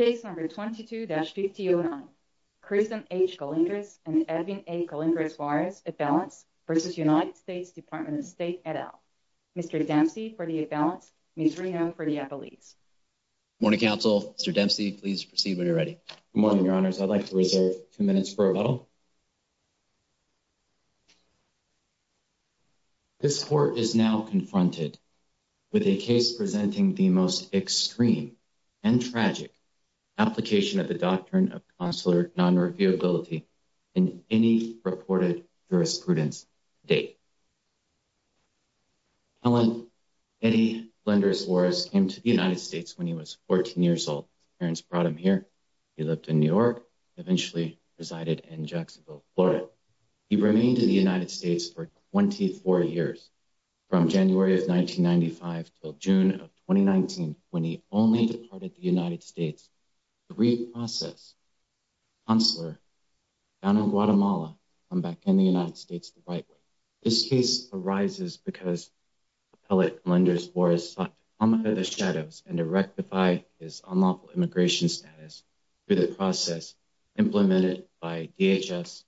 Case number 22-5009, Kristen H. Colindres and Edwin A. Colindres Vs. United States Department of State et al. Mr. Dempsey for the at-balance, Ms. Reno for the at-police. Good morning, counsel. Mr. Dempsey, please proceed when you're ready. Good morning, your honors. I'd like to reserve a few minutes for rebuttal. This court is now confronted with a case presenting the most extreme and tragic application of the doctrine of consular non-reviewability in any reported jurisprudence to date. Edwin A. Colindres came to the United States when he was 14 years old. His parents brought him here. He lived in New York and eventually resided in Jacksonville, Florida. He remained in the United States for 24 years, from January of 1995 until June of 2019, when he only departed the United States to re-process his consular down in Guatemala to come back in the United States the right way. This case arises because Appellate Colindres was sought to come under the shadows and to rectify his unlawful immigration status through the process implemented by DHS,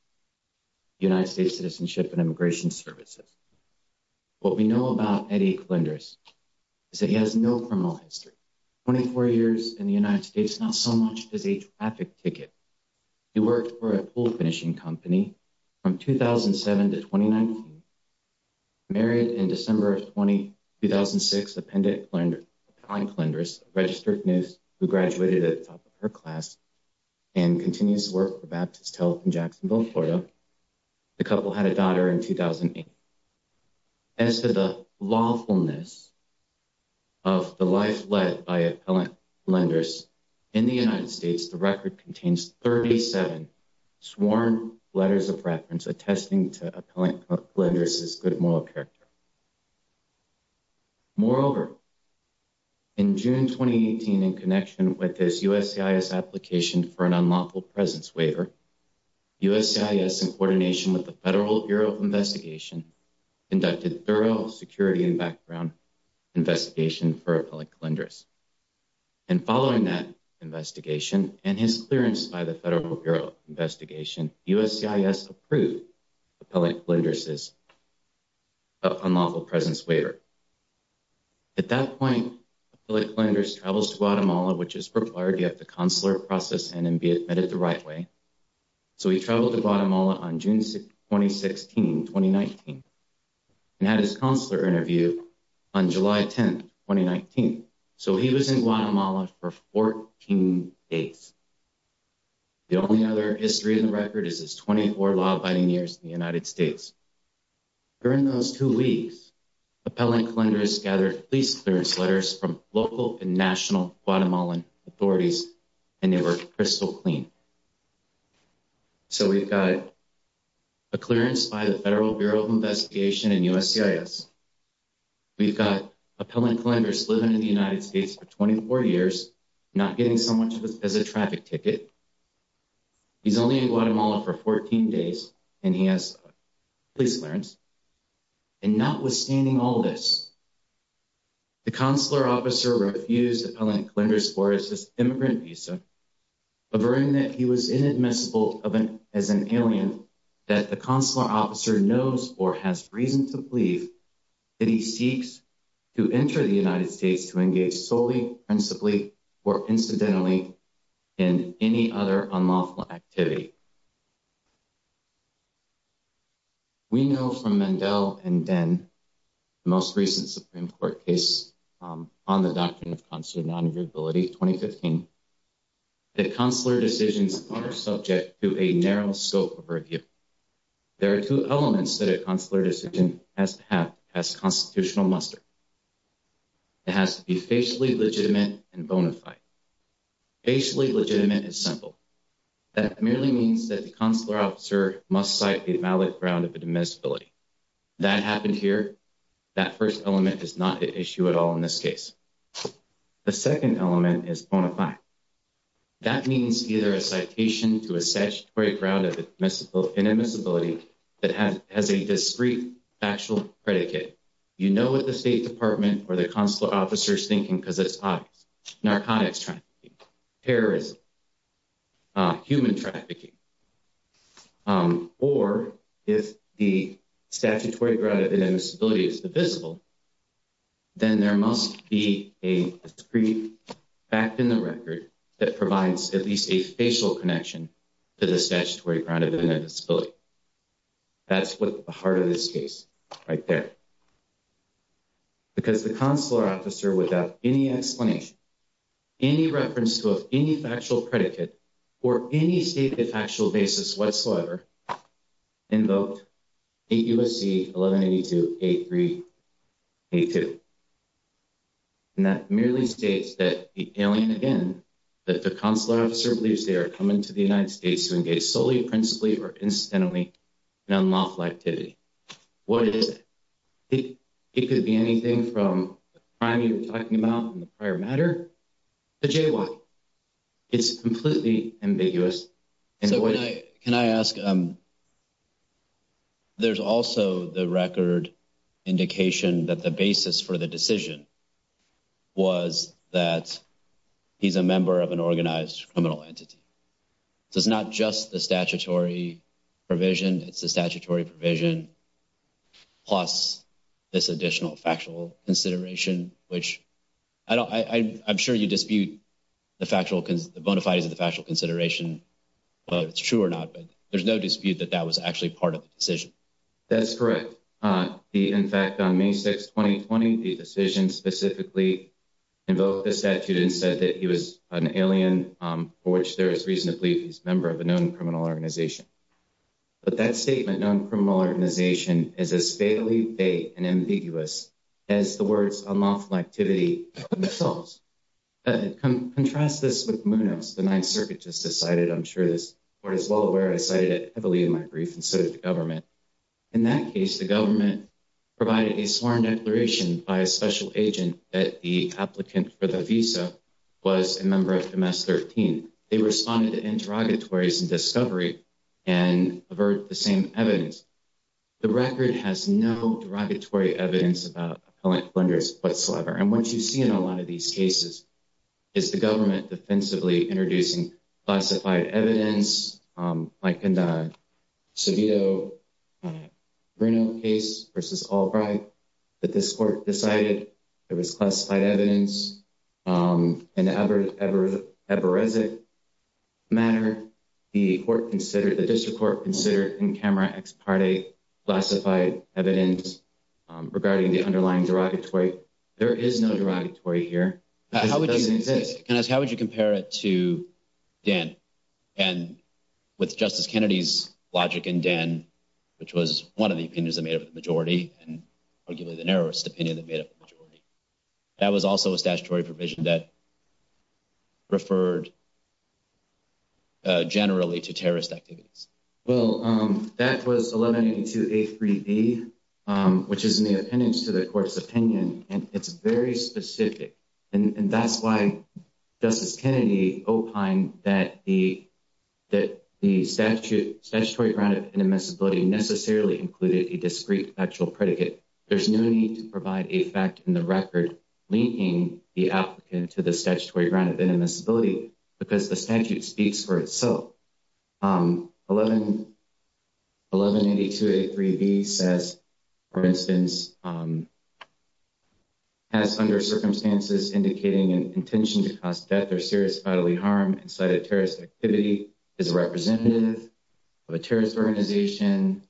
United States Citizenship and Immigration Services. What we know about Eddie Colindres is that he has no criminal history. 24 years in the United States is not so much as a traffic ticket. He worked for a pool finishing company from 2007 to 2019, married in December of 2006, Appellate Colindres, a registered nurse who graduated at the top of her class and continues to work for Baptist Health in Jacksonville, Florida. The couple had a daughter in 2008. As to the lawfulness of the life led by Appellate Colindres, in the United States, the record contains 37 sworn letters of reference attesting to Appellate Colindres' good moral character. Moreover, in June 2018, in connection with his USCIS application for an unlawful presence waiver, USCIS, in coordination with the Federal Bureau of Investigation, conducted thorough security and background investigation for Appellate Colindres. And following that investigation and his clearance by the Federal Bureau of Investigation, USCIS approved Appellate Colindres' unlawful presence waiver. At that point, Appellate Colindres travels to Guatemala, which is required. You have to consular process and be admitted the right way. So he traveled to Guatemala on June 2016, 2019, and had his consular interview on July 10, 2019. So he was in Guatemala for 14 days. The only other history in the record is his 24 law-abiding years in the United States. During those two weeks, Appellate Colindres gathered police clearance letters from local and national Guatemalan authorities, and they were crystal clean. So we've got a clearance by the Federal Bureau of Investigation and USCIS. We've got Appellate Colindres living in the United States for 24 years, not getting so much as a traffic ticket. He's only in Guatemala for 14 days, and he has police clearance. And notwithstanding all this, the consular officer refused Appellate Colindres' Immigrant Visa, averting that he was inadmissible as an alien, that the consular officer knows or has reason to believe that he seeks to enter the United States to engage solely, principally, or incidentally in any other unlawful activity. We know from Mandel and Den, the most recent Supreme Court case on the doctrine of consular non-availability, 2015, that consular decisions are subject to a narrow scope of review. There are two elements that a consular decision has to have as constitutional muster. It has to be facially legitimate and bona fide. Facially legitimate is simple. That merely means that the consular officer must cite a valid ground of inadmissibility. That happened here. That first element is not an issue at all in this case. The second element is bona fide. That means either a citation to a statutory ground of inadmissibility that has a discrete factual predicate. You know what the State Department or the consular officer is thinking because it's obvious. Narcotics trafficking, terrorism, human trafficking. Or if the statutory ground of inadmissibility is divisible, then there must be a discrete fact in the record that provides at least a facial connection to the statutory ground of inadmissibility. That's what the heart of this case right there. Because the consular officer, without any explanation, any reference to any factual predicate, or any stated factual basis whatsoever, invoked 8 U.S.C. 1182.83.82. And that merely states that the consular officer believes they are coming to the United States to engage solely, principally, or incidentally in unlawful activity. What is it? It could be anything from the crime you were talking about in the prior matter to J.Y. It's completely ambiguous. Can I ask, there's also the record indication that the basis for the decision was that he's a member of an organized criminal entity. So it's not just the statutory provision, it's the statutory provision plus this additional factual consideration, which I don't, I'm sure you dispute the factual, the bona fides of the factual consideration. But it's true or not, but there's no dispute that that was actually part of the decision. That's correct. In fact, on May 6, 2020, the decision specifically invoked the statute and said that he was an alien, for which there is reason to believe he's a member of a known criminal organization. But that statement, known criminal organization, is as fatally vague and ambiguous as the words unlawful activity themselves. Contrast this with Munoz, the Ninth Circuit just decided, I'm sure this court is well aware, I cited it heavily in my brief and so did the government. In that case, the government provided a sworn declaration by a special agent that the applicant for the visa was a member of MS-13. They responded to interrogatories and discovery and averred the same evidence. The record has no derogatory evidence about appellant offenders whatsoever. And what you see in a lot of these cases is the government defensively introducing classified evidence, like in the Savino-Bruno case versus Albright, that this court decided there was classified evidence. In the Eberezek matter, the district court considered in camera ex parte classified evidence regarding the underlying derogatory. There is no derogatory here. How would you compare it to Dan? And with Justice Kennedy's logic in Dan, which was one of the opinions that made up the majority, and arguably the narrowest opinion that made up the majority, that was also a statutory provision that referred generally to terrorist activities. Well, that was 1182A3B, which is in the appendix to the court's opinion, and it's very specific. And that's why Justice Kennedy opined that the statutory ground of inadmissibility necessarily included a discrete factual predicate. There's no need to provide a fact in the record linking the applicant to the statutory ground of inadmissibility because the statute speaks for itself. 1182A3B says, for instance, has under circumstances indicating an intention to cause death or serious bodily harm in sight of terrorist activity, is a representative of a terrorist organization,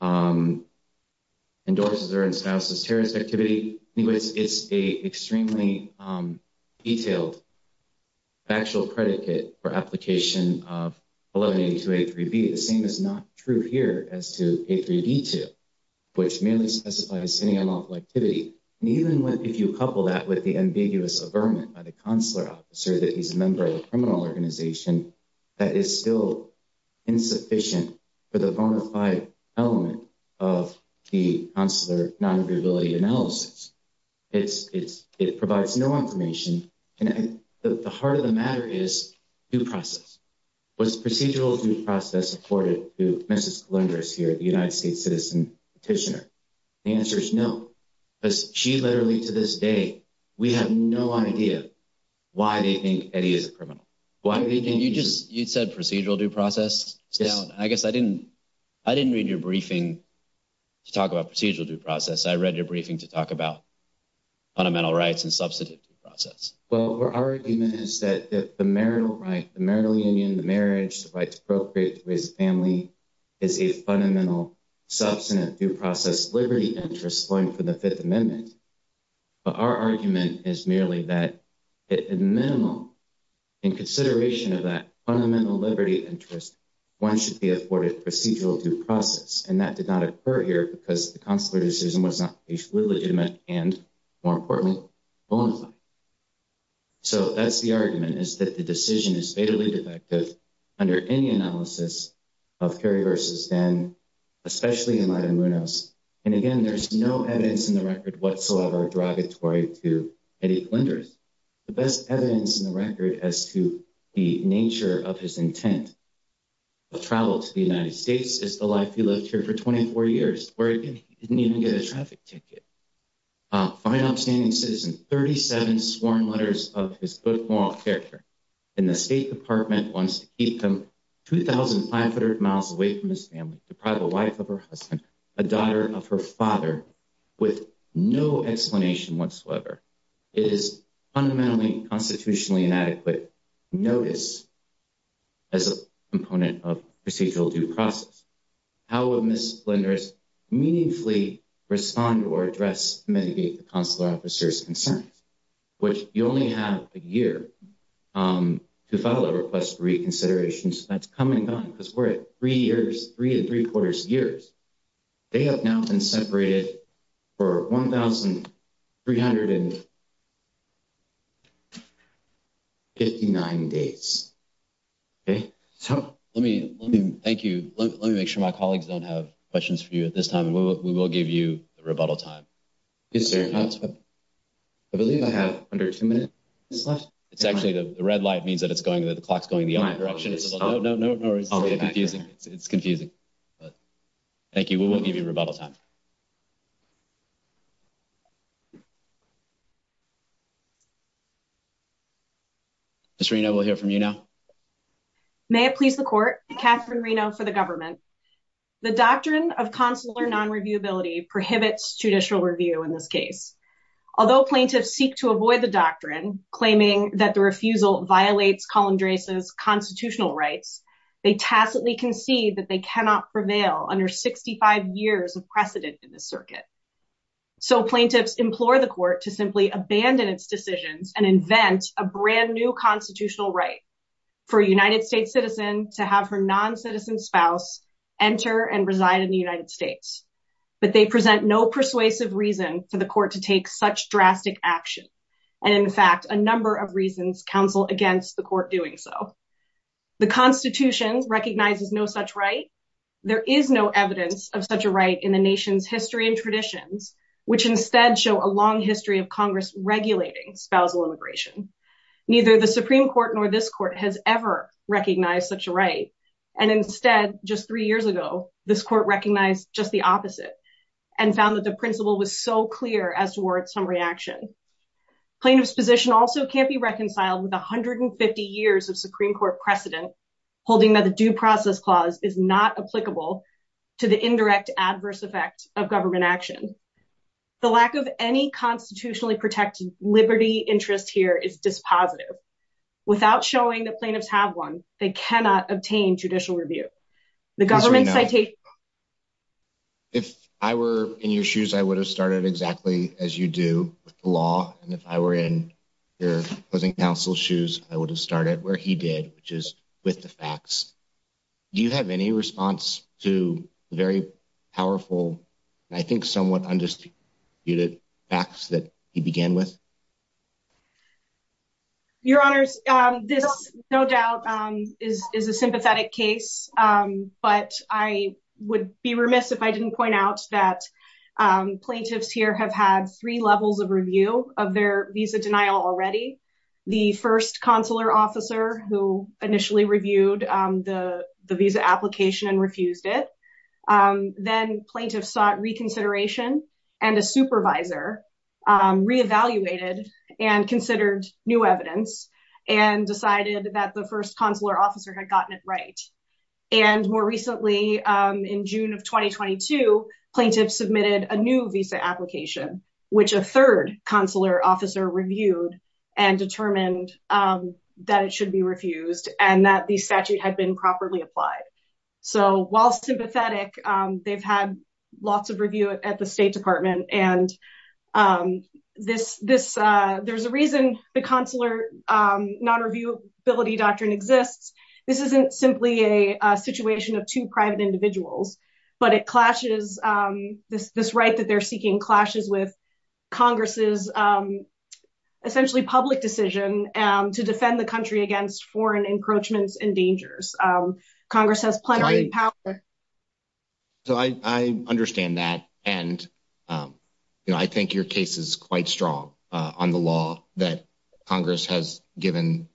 endorses or enslouses terrorist activity. It's an extremely detailed factual predicate for application of 1182A3B. The same is not true here as to A3B2, which merely specifies any unlawful activity. And even if you couple that with the ambiguous averment by the consular officer that he's a member of a criminal organization, that is still insufficient for the bona fide element of the consular non-agreeability analysis. It provides no information. And the heart of the matter is due process. Was procedural due process afforded to Mrs. Columbus here, the United States citizen petitioner? The answer is no. She literally, to this day, we have no idea why they think Eddie is a criminal. You said procedural due process? I guess I didn't read your briefing to talk about procedural due process. I read your briefing to talk about fundamental rights and substantive due process. Well, our argument is that the marital right, the marital union, the marriage, the right to procreate, to raise a family, is a fundamental, substantive due process liberty interest going for the Fifth Amendment. But our argument is merely that, at a minimum, in consideration of that fundamental liberty interest, one should be afforded procedural due process. And that did not occur here because the consular decision was not legally legitimate and, more importantly, bona fide. So, that's the argument, is that the decision is fatally defective under any analysis of Kerry versus then, especially in Matamounos. And, again, there's no evidence in the record whatsoever derogatory to Eddie Flinders. The best evidence in the record as to the nature of his intent of travel to the United States is the life he lived here for 24 years, where he didn't even get a traffic ticket. A fine, outstanding citizen, 37 sworn letters of his good moral character in the State Department wants to keep him 2,500 miles away from his family, deprive a wife of her husband, a daughter of her father, with no explanation whatsoever. It is fundamentally constitutionally inadequate notice as a component of procedural due process. How would Ms. Flinders meaningfully respond or address, mitigate the consular officer's concerns? Which you only have a year to file a request for reconsideration, so that's come and gone because we're at three years, three to three quarters years. They have now been separated for 1,359 days. Okay, so let me thank you. Let me make sure my colleagues don't have questions for you at this time. We will give you the rebuttal time. Yes, sir. I believe I have under two minutes. It's actually the red light means that it's going to the clock's going the other direction. No, no, no, no. It's confusing. It's confusing. Thank you. We will give you rebuttal time. Ms. Reno, we'll hear from you now. May it please the court, Catherine Reno for the government. The doctrine of consular non-reviewability prohibits judicial review in this case. Although plaintiffs seek to avoid the doctrine, claiming that the refusal violates Colin Drace's constitutional rights, they tacitly concede that they cannot prevail under 65 years of precedent in the circuit. So plaintiffs implore the court to simply abandon its decisions and invent a brand new constitutional right for a United States citizen to have her non-citizen spouse enter and reside in the United States. But they present no persuasive reason for the court to take such drastic action. And in fact, a number of reasons counsel against the court doing so. The Constitution recognizes no such right. There is no evidence of such a right in the nation's history and traditions, which instead show a long history of Congress regulating spousal immigration. Neither the Supreme Court nor this court has ever recognized such a right. And instead, just three years ago, this court recognized just the opposite and found that the principle was so clear as towards some reaction. Plaintiff's position also can't be reconciled with 150 years of Supreme Court precedent, holding that the Due Process Clause is not applicable to the indirect adverse effect of government action. The lack of any constitutionally protected liberty interest here is dispositive. Without showing that plaintiffs have one, they cannot obtain judicial review. If I were in your shoes, I would have started exactly as you do with the law. And if I were in your closing counsel's shoes, I would have started where he did, which is with the facts. Do you have any response to the very powerful, I think somewhat undisputed facts that he began with? Your Honors, this no doubt is a sympathetic case, but I would be remiss if I didn't point out that plaintiffs here have had three levels of review of their visa denial already. The first consular officer who initially reviewed the visa application and refused it. Then plaintiffs sought reconsideration and a supervisor re-evaluated and considered new evidence and decided that the first consular officer had gotten it right. And more recently, in June of 2022, plaintiffs submitted a new visa application, which a third consular officer reviewed and determined that it should be refused and that the statute had been properly applied. So while sympathetic, they've had lots of review at the State Department. And there's a reason the consular non-reviewability doctrine exists. This isn't simply a situation of two private individuals, but it clashes, this right that they're seeking clashes with Congress's essentially public decision to defend the country against foreign encroachments and dangers. Congress has plenty of power. So I understand that. And I think your case is quite strong on the law that Congress has given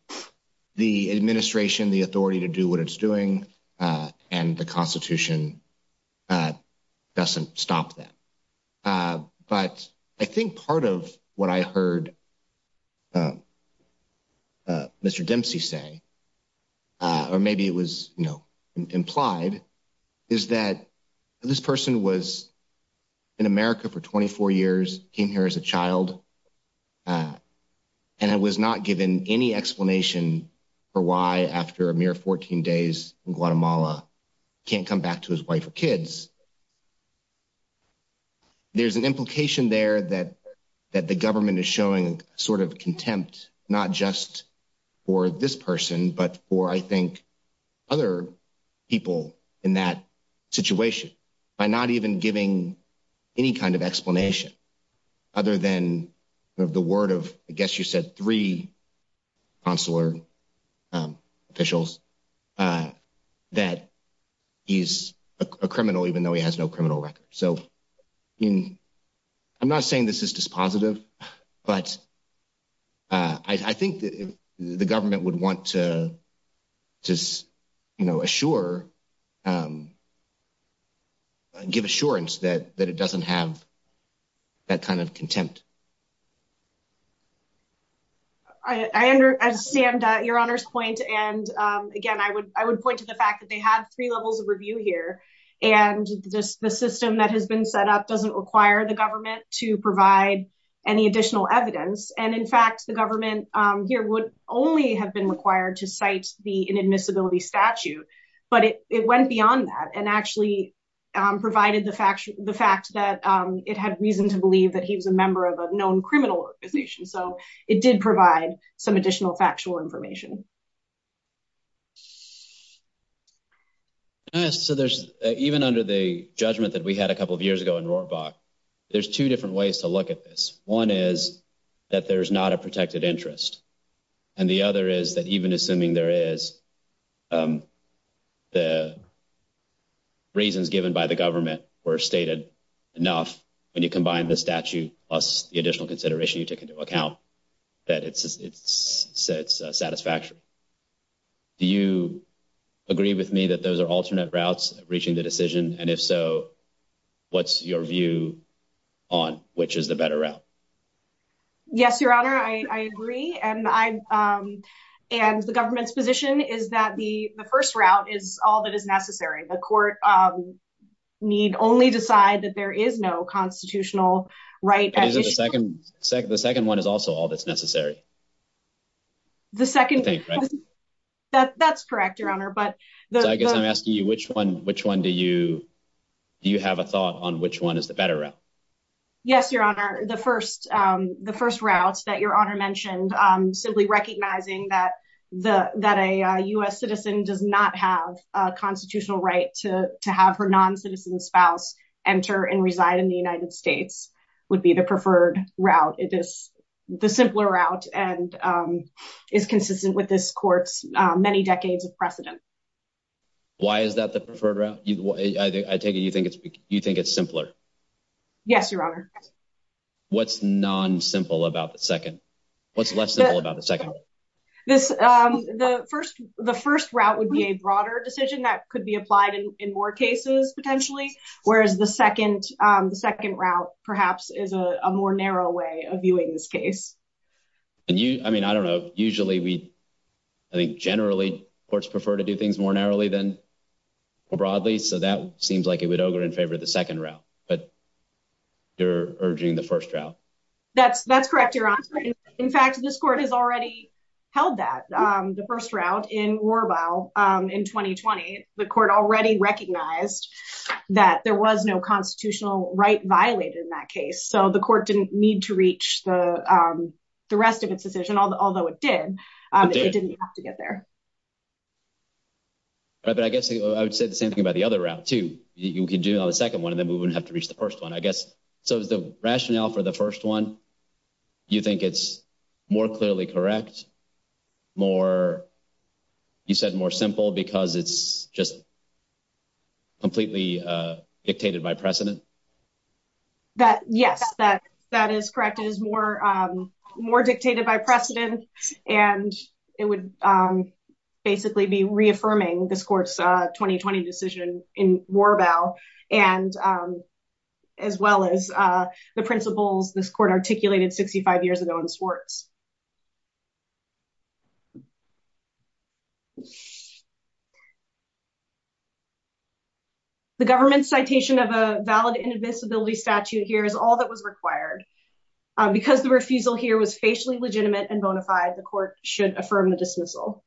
the administration the authority to do what it's doing. And the Constitution doesn't stop that. But I think part of what I heard Mr. Dempsey say, or maybe it was implied, is that this person was in America for 24 years, came here as a child. And I was not given any explanation for why, after a mere 14 days in Guatemala, can't come back to his wife or kids. There's an implication there that the government is showing sort of contempt, not just for this person, but for, I think, other people in that situation by not even giving any kind of explanation, other than the word of, I guess you said, three consular officials, that he's a criminal even though he has no criminal record. So I'm not saying this is dispositive, but I think the government would want to assure, give assurance that it doesn't have that kind of contempt. I understand your Honor's point. And again, I would point to the fact that they had three levels of review here. And the system that has been set up doesn't require the government to provide any additional evidence. And in fact, the government here would only have been required to cite the inadmissibility statute. But it went beyond that and actually provided the fact that it had reason to believe that he was a member of a known criminal organization. So it did provide some additional factual information. Yes, so there's – even under the judgment that we had a couple of years ago in Rohrbach, there's two different ways to look at this. One is that there's not a protected interest. And the other is that even assuming there is, the reasons given by the government were stated enough, when you combine the statute plus the additional consideration you take into account, that it's satisfactory. Do you agree with me that those are alternate routes reaching the decision? And if so, what's your view on which is the better route? Yes, Your Honor, I agree. And the government's position is that the first route is all that is necessary. The court need only decide that there is no constitutional right at issue. But isn't the second one is also all that's necessary? The second – that's correct, Your Honor. So I guess I'm asking you, which one do you have a thought on which one is the better route? Yes, Your Honor, the first route that Your Honor mentioned, simply recognizing that a U.S. citizen does not have a constitutional right to have her non-citizen spouse enter and reside in the United States would be the preferred route. It is the simpler route and is consistent with this court's many decades of precedent. Why is that the preferred route? I take it you think it's simpler. Yes, Your Honor. What's non-simple about the second? What's less simple about the second? The first route would be a broader decision that could be applied in more cases potentially, whereas the second route perhaps is a more narrow way of viewing this case. I mean, I don't know. Usually we – I think generally courts prefer to do things more narrowly than broadly. So that seems like it would ogre in favor of the second route, but you're urging the first route. That's correct, Your Honor. In fact, this court has already held that. The first route in Rorbaugh in 2020, the court already recognized that there was no constitutional right violated in that case, so the court didn't need to reach the rest of its decision, although it did. It didn't have to get there. But I guess I would say the same thing about the other route, too. You can do it on the second one, and then we wouldn't have to reach the first one, I guess. So is the rationale for the first one, you think it's more clearly correct, more – you said more simple because it's just completely dictated by precedent? Yes, that is correct. It is more dictated by precedent, and it would basically be reaffirming this court's 2020 decision in Rorbaugh, as well as the principles this court articulated 65 years ago in Swartz. The government's citation of a valid inadmissibility statute here is all that was required. Because the refusal here was facially legitimate and bona fide, the court should affirm the dismissal.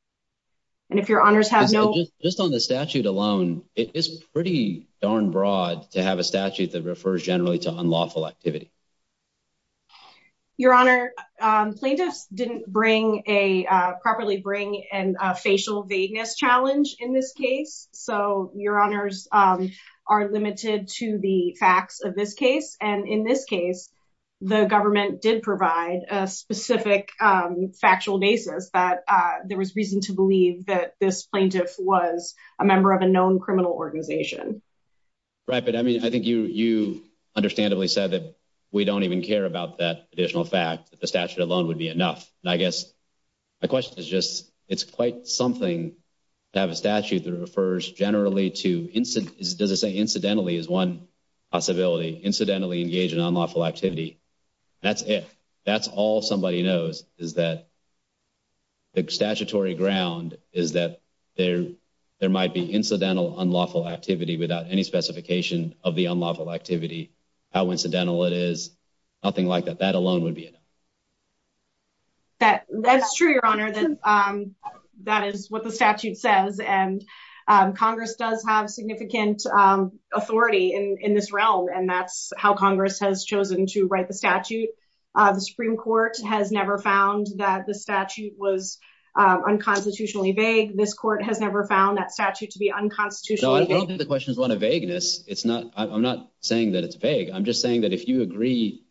And if Your Honors have no – Just on the statute alone, it is pretty darn broad to have a statute that refers generally to unlawful activity. Your Honor, plaintiffs didn't properly bring a facial vagueness challenge in this case, so Your Honors are limited to the facts of this case. And in this case, the government did provide a specific factual basis that there was reason to believe that this plaintiff was a member of a known criminal organization. Right, but I mean, I think you understandably said that we don't even care about that additional fact, that the statute alone would be enough. And I guess my question is just, it's quite something to have a statute that refers generally to – does it say incidentally is one possibility, incidentally engage in unlawful activity. That's it. That's all somebody knows is that the statutory ground is that there might be incidental unlawful activity without any specification of the unlawful activity. How incidental it is, nothing like that. That alone would be enough. That's true, Your Honor. That is what the statute says, and Congress does have significant authority in this realm, and that's how Congress has chosen to write the statute. The Supreme Court has never found that the statute was unconstitutionally vague. This court has never found that statute to be unconstitutionally vague. No, I don't think the question is one of vagueness. It's not – I'm not saying that it's vague. I'm just saying that if you agree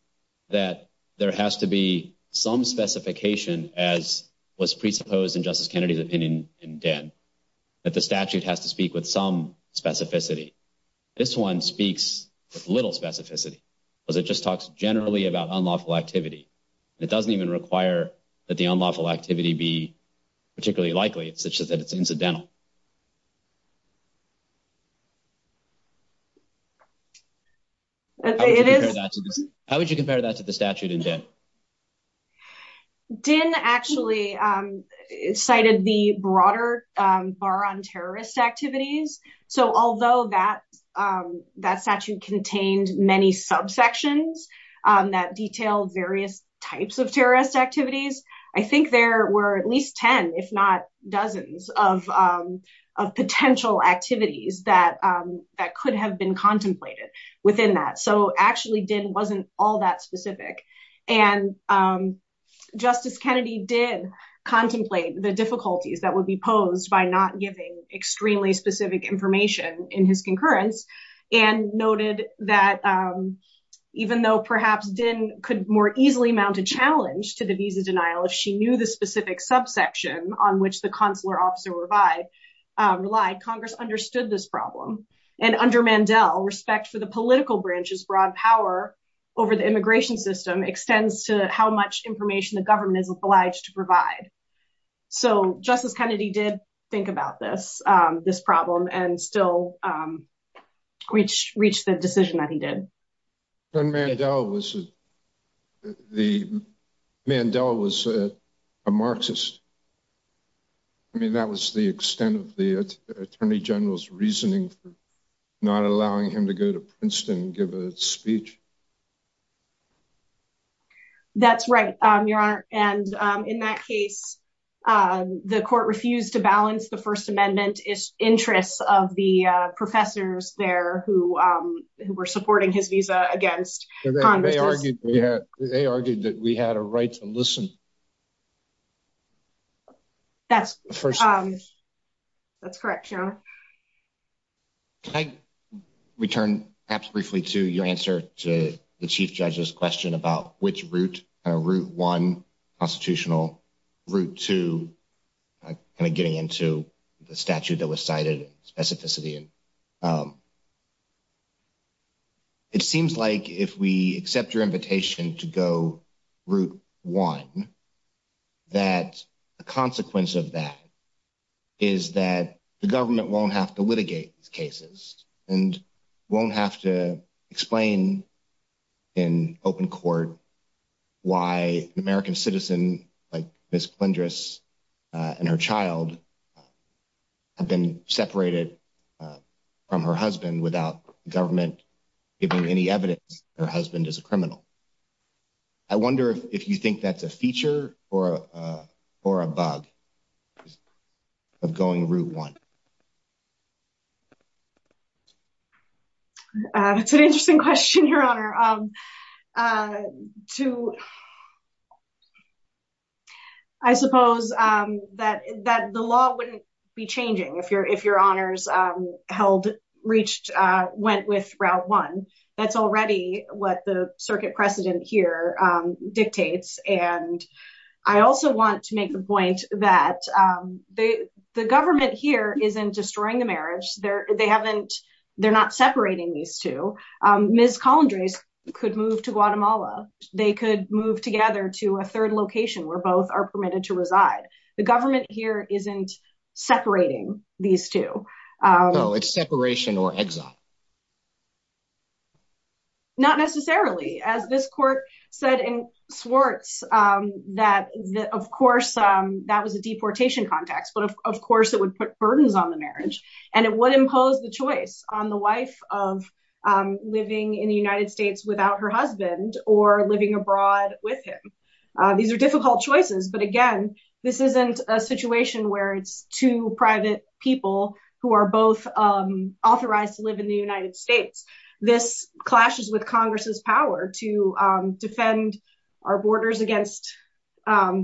that there has to be some specification, as was presupposed in Justice Kennedy's opinion in Denn, that the statute has to speak with some specificity. This one speaks with little specificity because it just talks generally about unlawful activity. It doesn't even require that the unlawful activity be particularly likely such that it's incidental. How would you compare that to the statute in Denn? Denn actually cited the broader bar on terrorist activities. So although that statute contained many subsections that detailed various types of terrorist activities, I think there were at least 10, if not dozens, of potential activities that could have been contemplated within that. So actually, Denn wasn't all that specific. And Justice Kennedy did contemplate the difficulties that would be posed by not giving extremely specific information in his concurrence, and noted that even though perhaps Denn could more easily mount a challenge to the visa denial if she knew the specific subsection on which the consular officer relied, Congress understood this problem. And under Mandel, respect for the political branch's broad power over the immigration system extends to how much information the government is obliged to provide. So Justice Kennedy did think about this problem and still reached the decision that he did. But Mandel was a Marxist. I mean, that was the extent of the Attorney General's reasoning for not allowing him to go to Princeton and give a speech. That's right, Your Honor. And in that case, the court refused to balance the First Amendment interests of the professors there who were supporting his visa against Congress. They argued that we had a right to listen. That's correct, Your Honor. Can I return perhaps briefly to your answer to the Chief Judge's question about which route, Route 1, constitutional, Route 2, kind of getting into the statute that was cited, specificity? It seems like if we accept your invitation to go Route 1, that a consequence of that is that the government won't have to litigate these cases and won't have to explain in open court why an American citizen like Ms. I wonder if you think that's a feature or a bug of going Route 1? That's an interesting question, Your Honor. I suppose that the law wouldn't be changing if Your Honors held, reached, went with Route 1. That's already what the circuit precedent here dictates. I also want to make the point that the government here isn't destroying the marriage. They're not separating these two. Ms. Colendrase could move to Guatemala. They could move together to a third location where both are permitted to reside. The government here isn't separating these two. No, it's separation or exile. Not necessarily. As this court said in Swartz that, of course, that was a deportation context. But, of course, it would put burdens on the marriage. And it would impose the choice on the wife of living in the United States without her husband or living abroad with him. These are difficult choices. But, again, this isn't a situation where it's two private people who are both authorized to live in the United States. This clashes with Congress's power to defend our borders against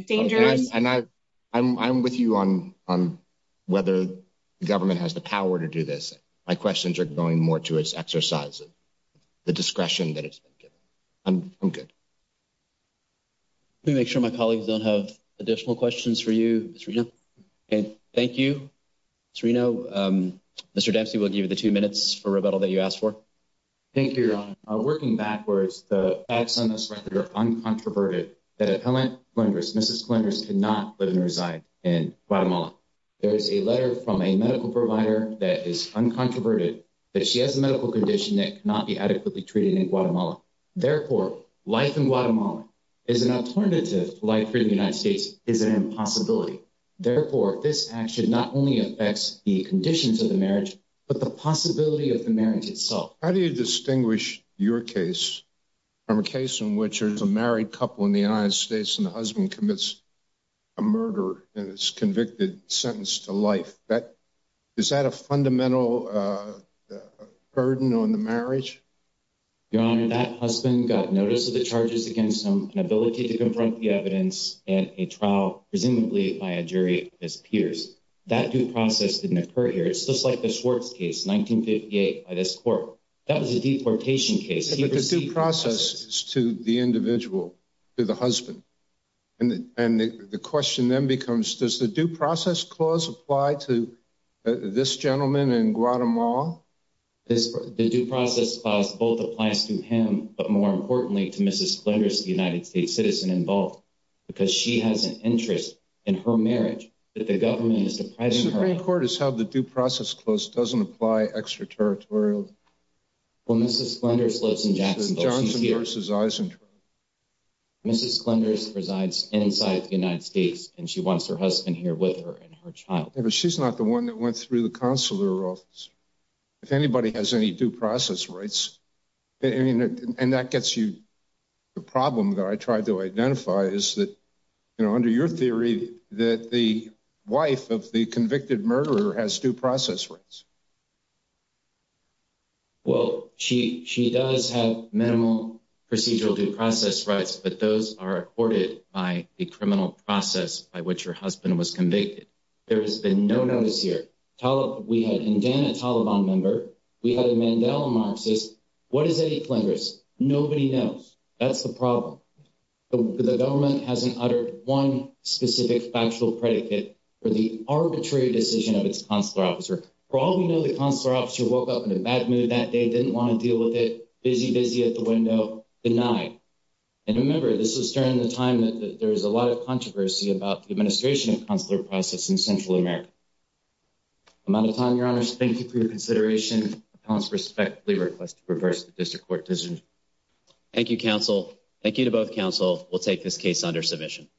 dangers. And I'm with you on whether the government has the power to do this. My questions are going more to its exercise of the discretion that it's been given. I'm good. Let me make sure my colleagues don't have additional questions for you, Ms. Reno. Thank you, Ms. Reno. Mr. Dempsey, we'll give you the two minutes for rebuttal that you asked for. Thank you, Your Honor. Working backwards, the acts on this record are uncontroverted. The appellant, Mrs. Calendris, cannot live and reside in Guatemala. There is a letter from a medical provider that is uncontroverted that she has a medical condition that cannot be adequately treated in Guatemala. Therefore, life in Guatemala as an alternative to life in the United States is an impossibility. Therefore, this action not only affects the conditions of the marriage, but the possibility of the marriage itself. How do you distinguish your case from a case in which there's a married couple in the United States and the husband commits a murder and is convicted, sentenced to life? Is that a fundamental burden on the marriage? Your Honor, that husband got notice of the charges against him, an ability to confront the evidence, and a trial, presumably by a jury as peers. That due process didn't occur here. It's just like the Schwartz case, 1958, by this court. That was a deportation case. But the due process is to the individual, to the husband. And the question then becomes, does the due process clause apply to this gentleman in Guatemala? The due process clause both applies to him, but more importantly to Mrs. Glenders, the United States citizen involved, because she has an interest in her marriage that the government is depriving her of. The Supreme Court has held the due process clause doesn't apply extraterritorially. Well, Mrs. Glenders lives in Jacksonville. She's here. Johnson v. Eisenhower. Mrs. Glenders resides inside the United States, and she wants her husband here with her and her child. But she's not the one that went through the consular office. If anybody has any due process rights, and that gets you the problem that I tried to identify, is that, you know, under your theory, that the wife of the convicted murderer has due process rights. Well, she does have minimal procedural due process rights, but those are accorded by the criminal process by which her husband was convicted. There has been no notice here. We had Indiana Taliban member. We had a Mandela Marxist. What is Eddie Flinders? Nobody knows. That's the problem. The government hasn't uttered one specific factual predicate for the arbitrary decision of its consular officer. For all we know, the consular officer woke up in a bad mood that day, didn't want to deal with it, busy, busy at the window, denied. And remember, this is during the time that there is a lot of controversy about the administration of consular process in Central America. I'm out of time, Your Honors. Thank you for your consideration. Appellants respectfully request to reverse the district court decision. Thank you, counsel. Thank you to both counsel. We'll take this case under submission.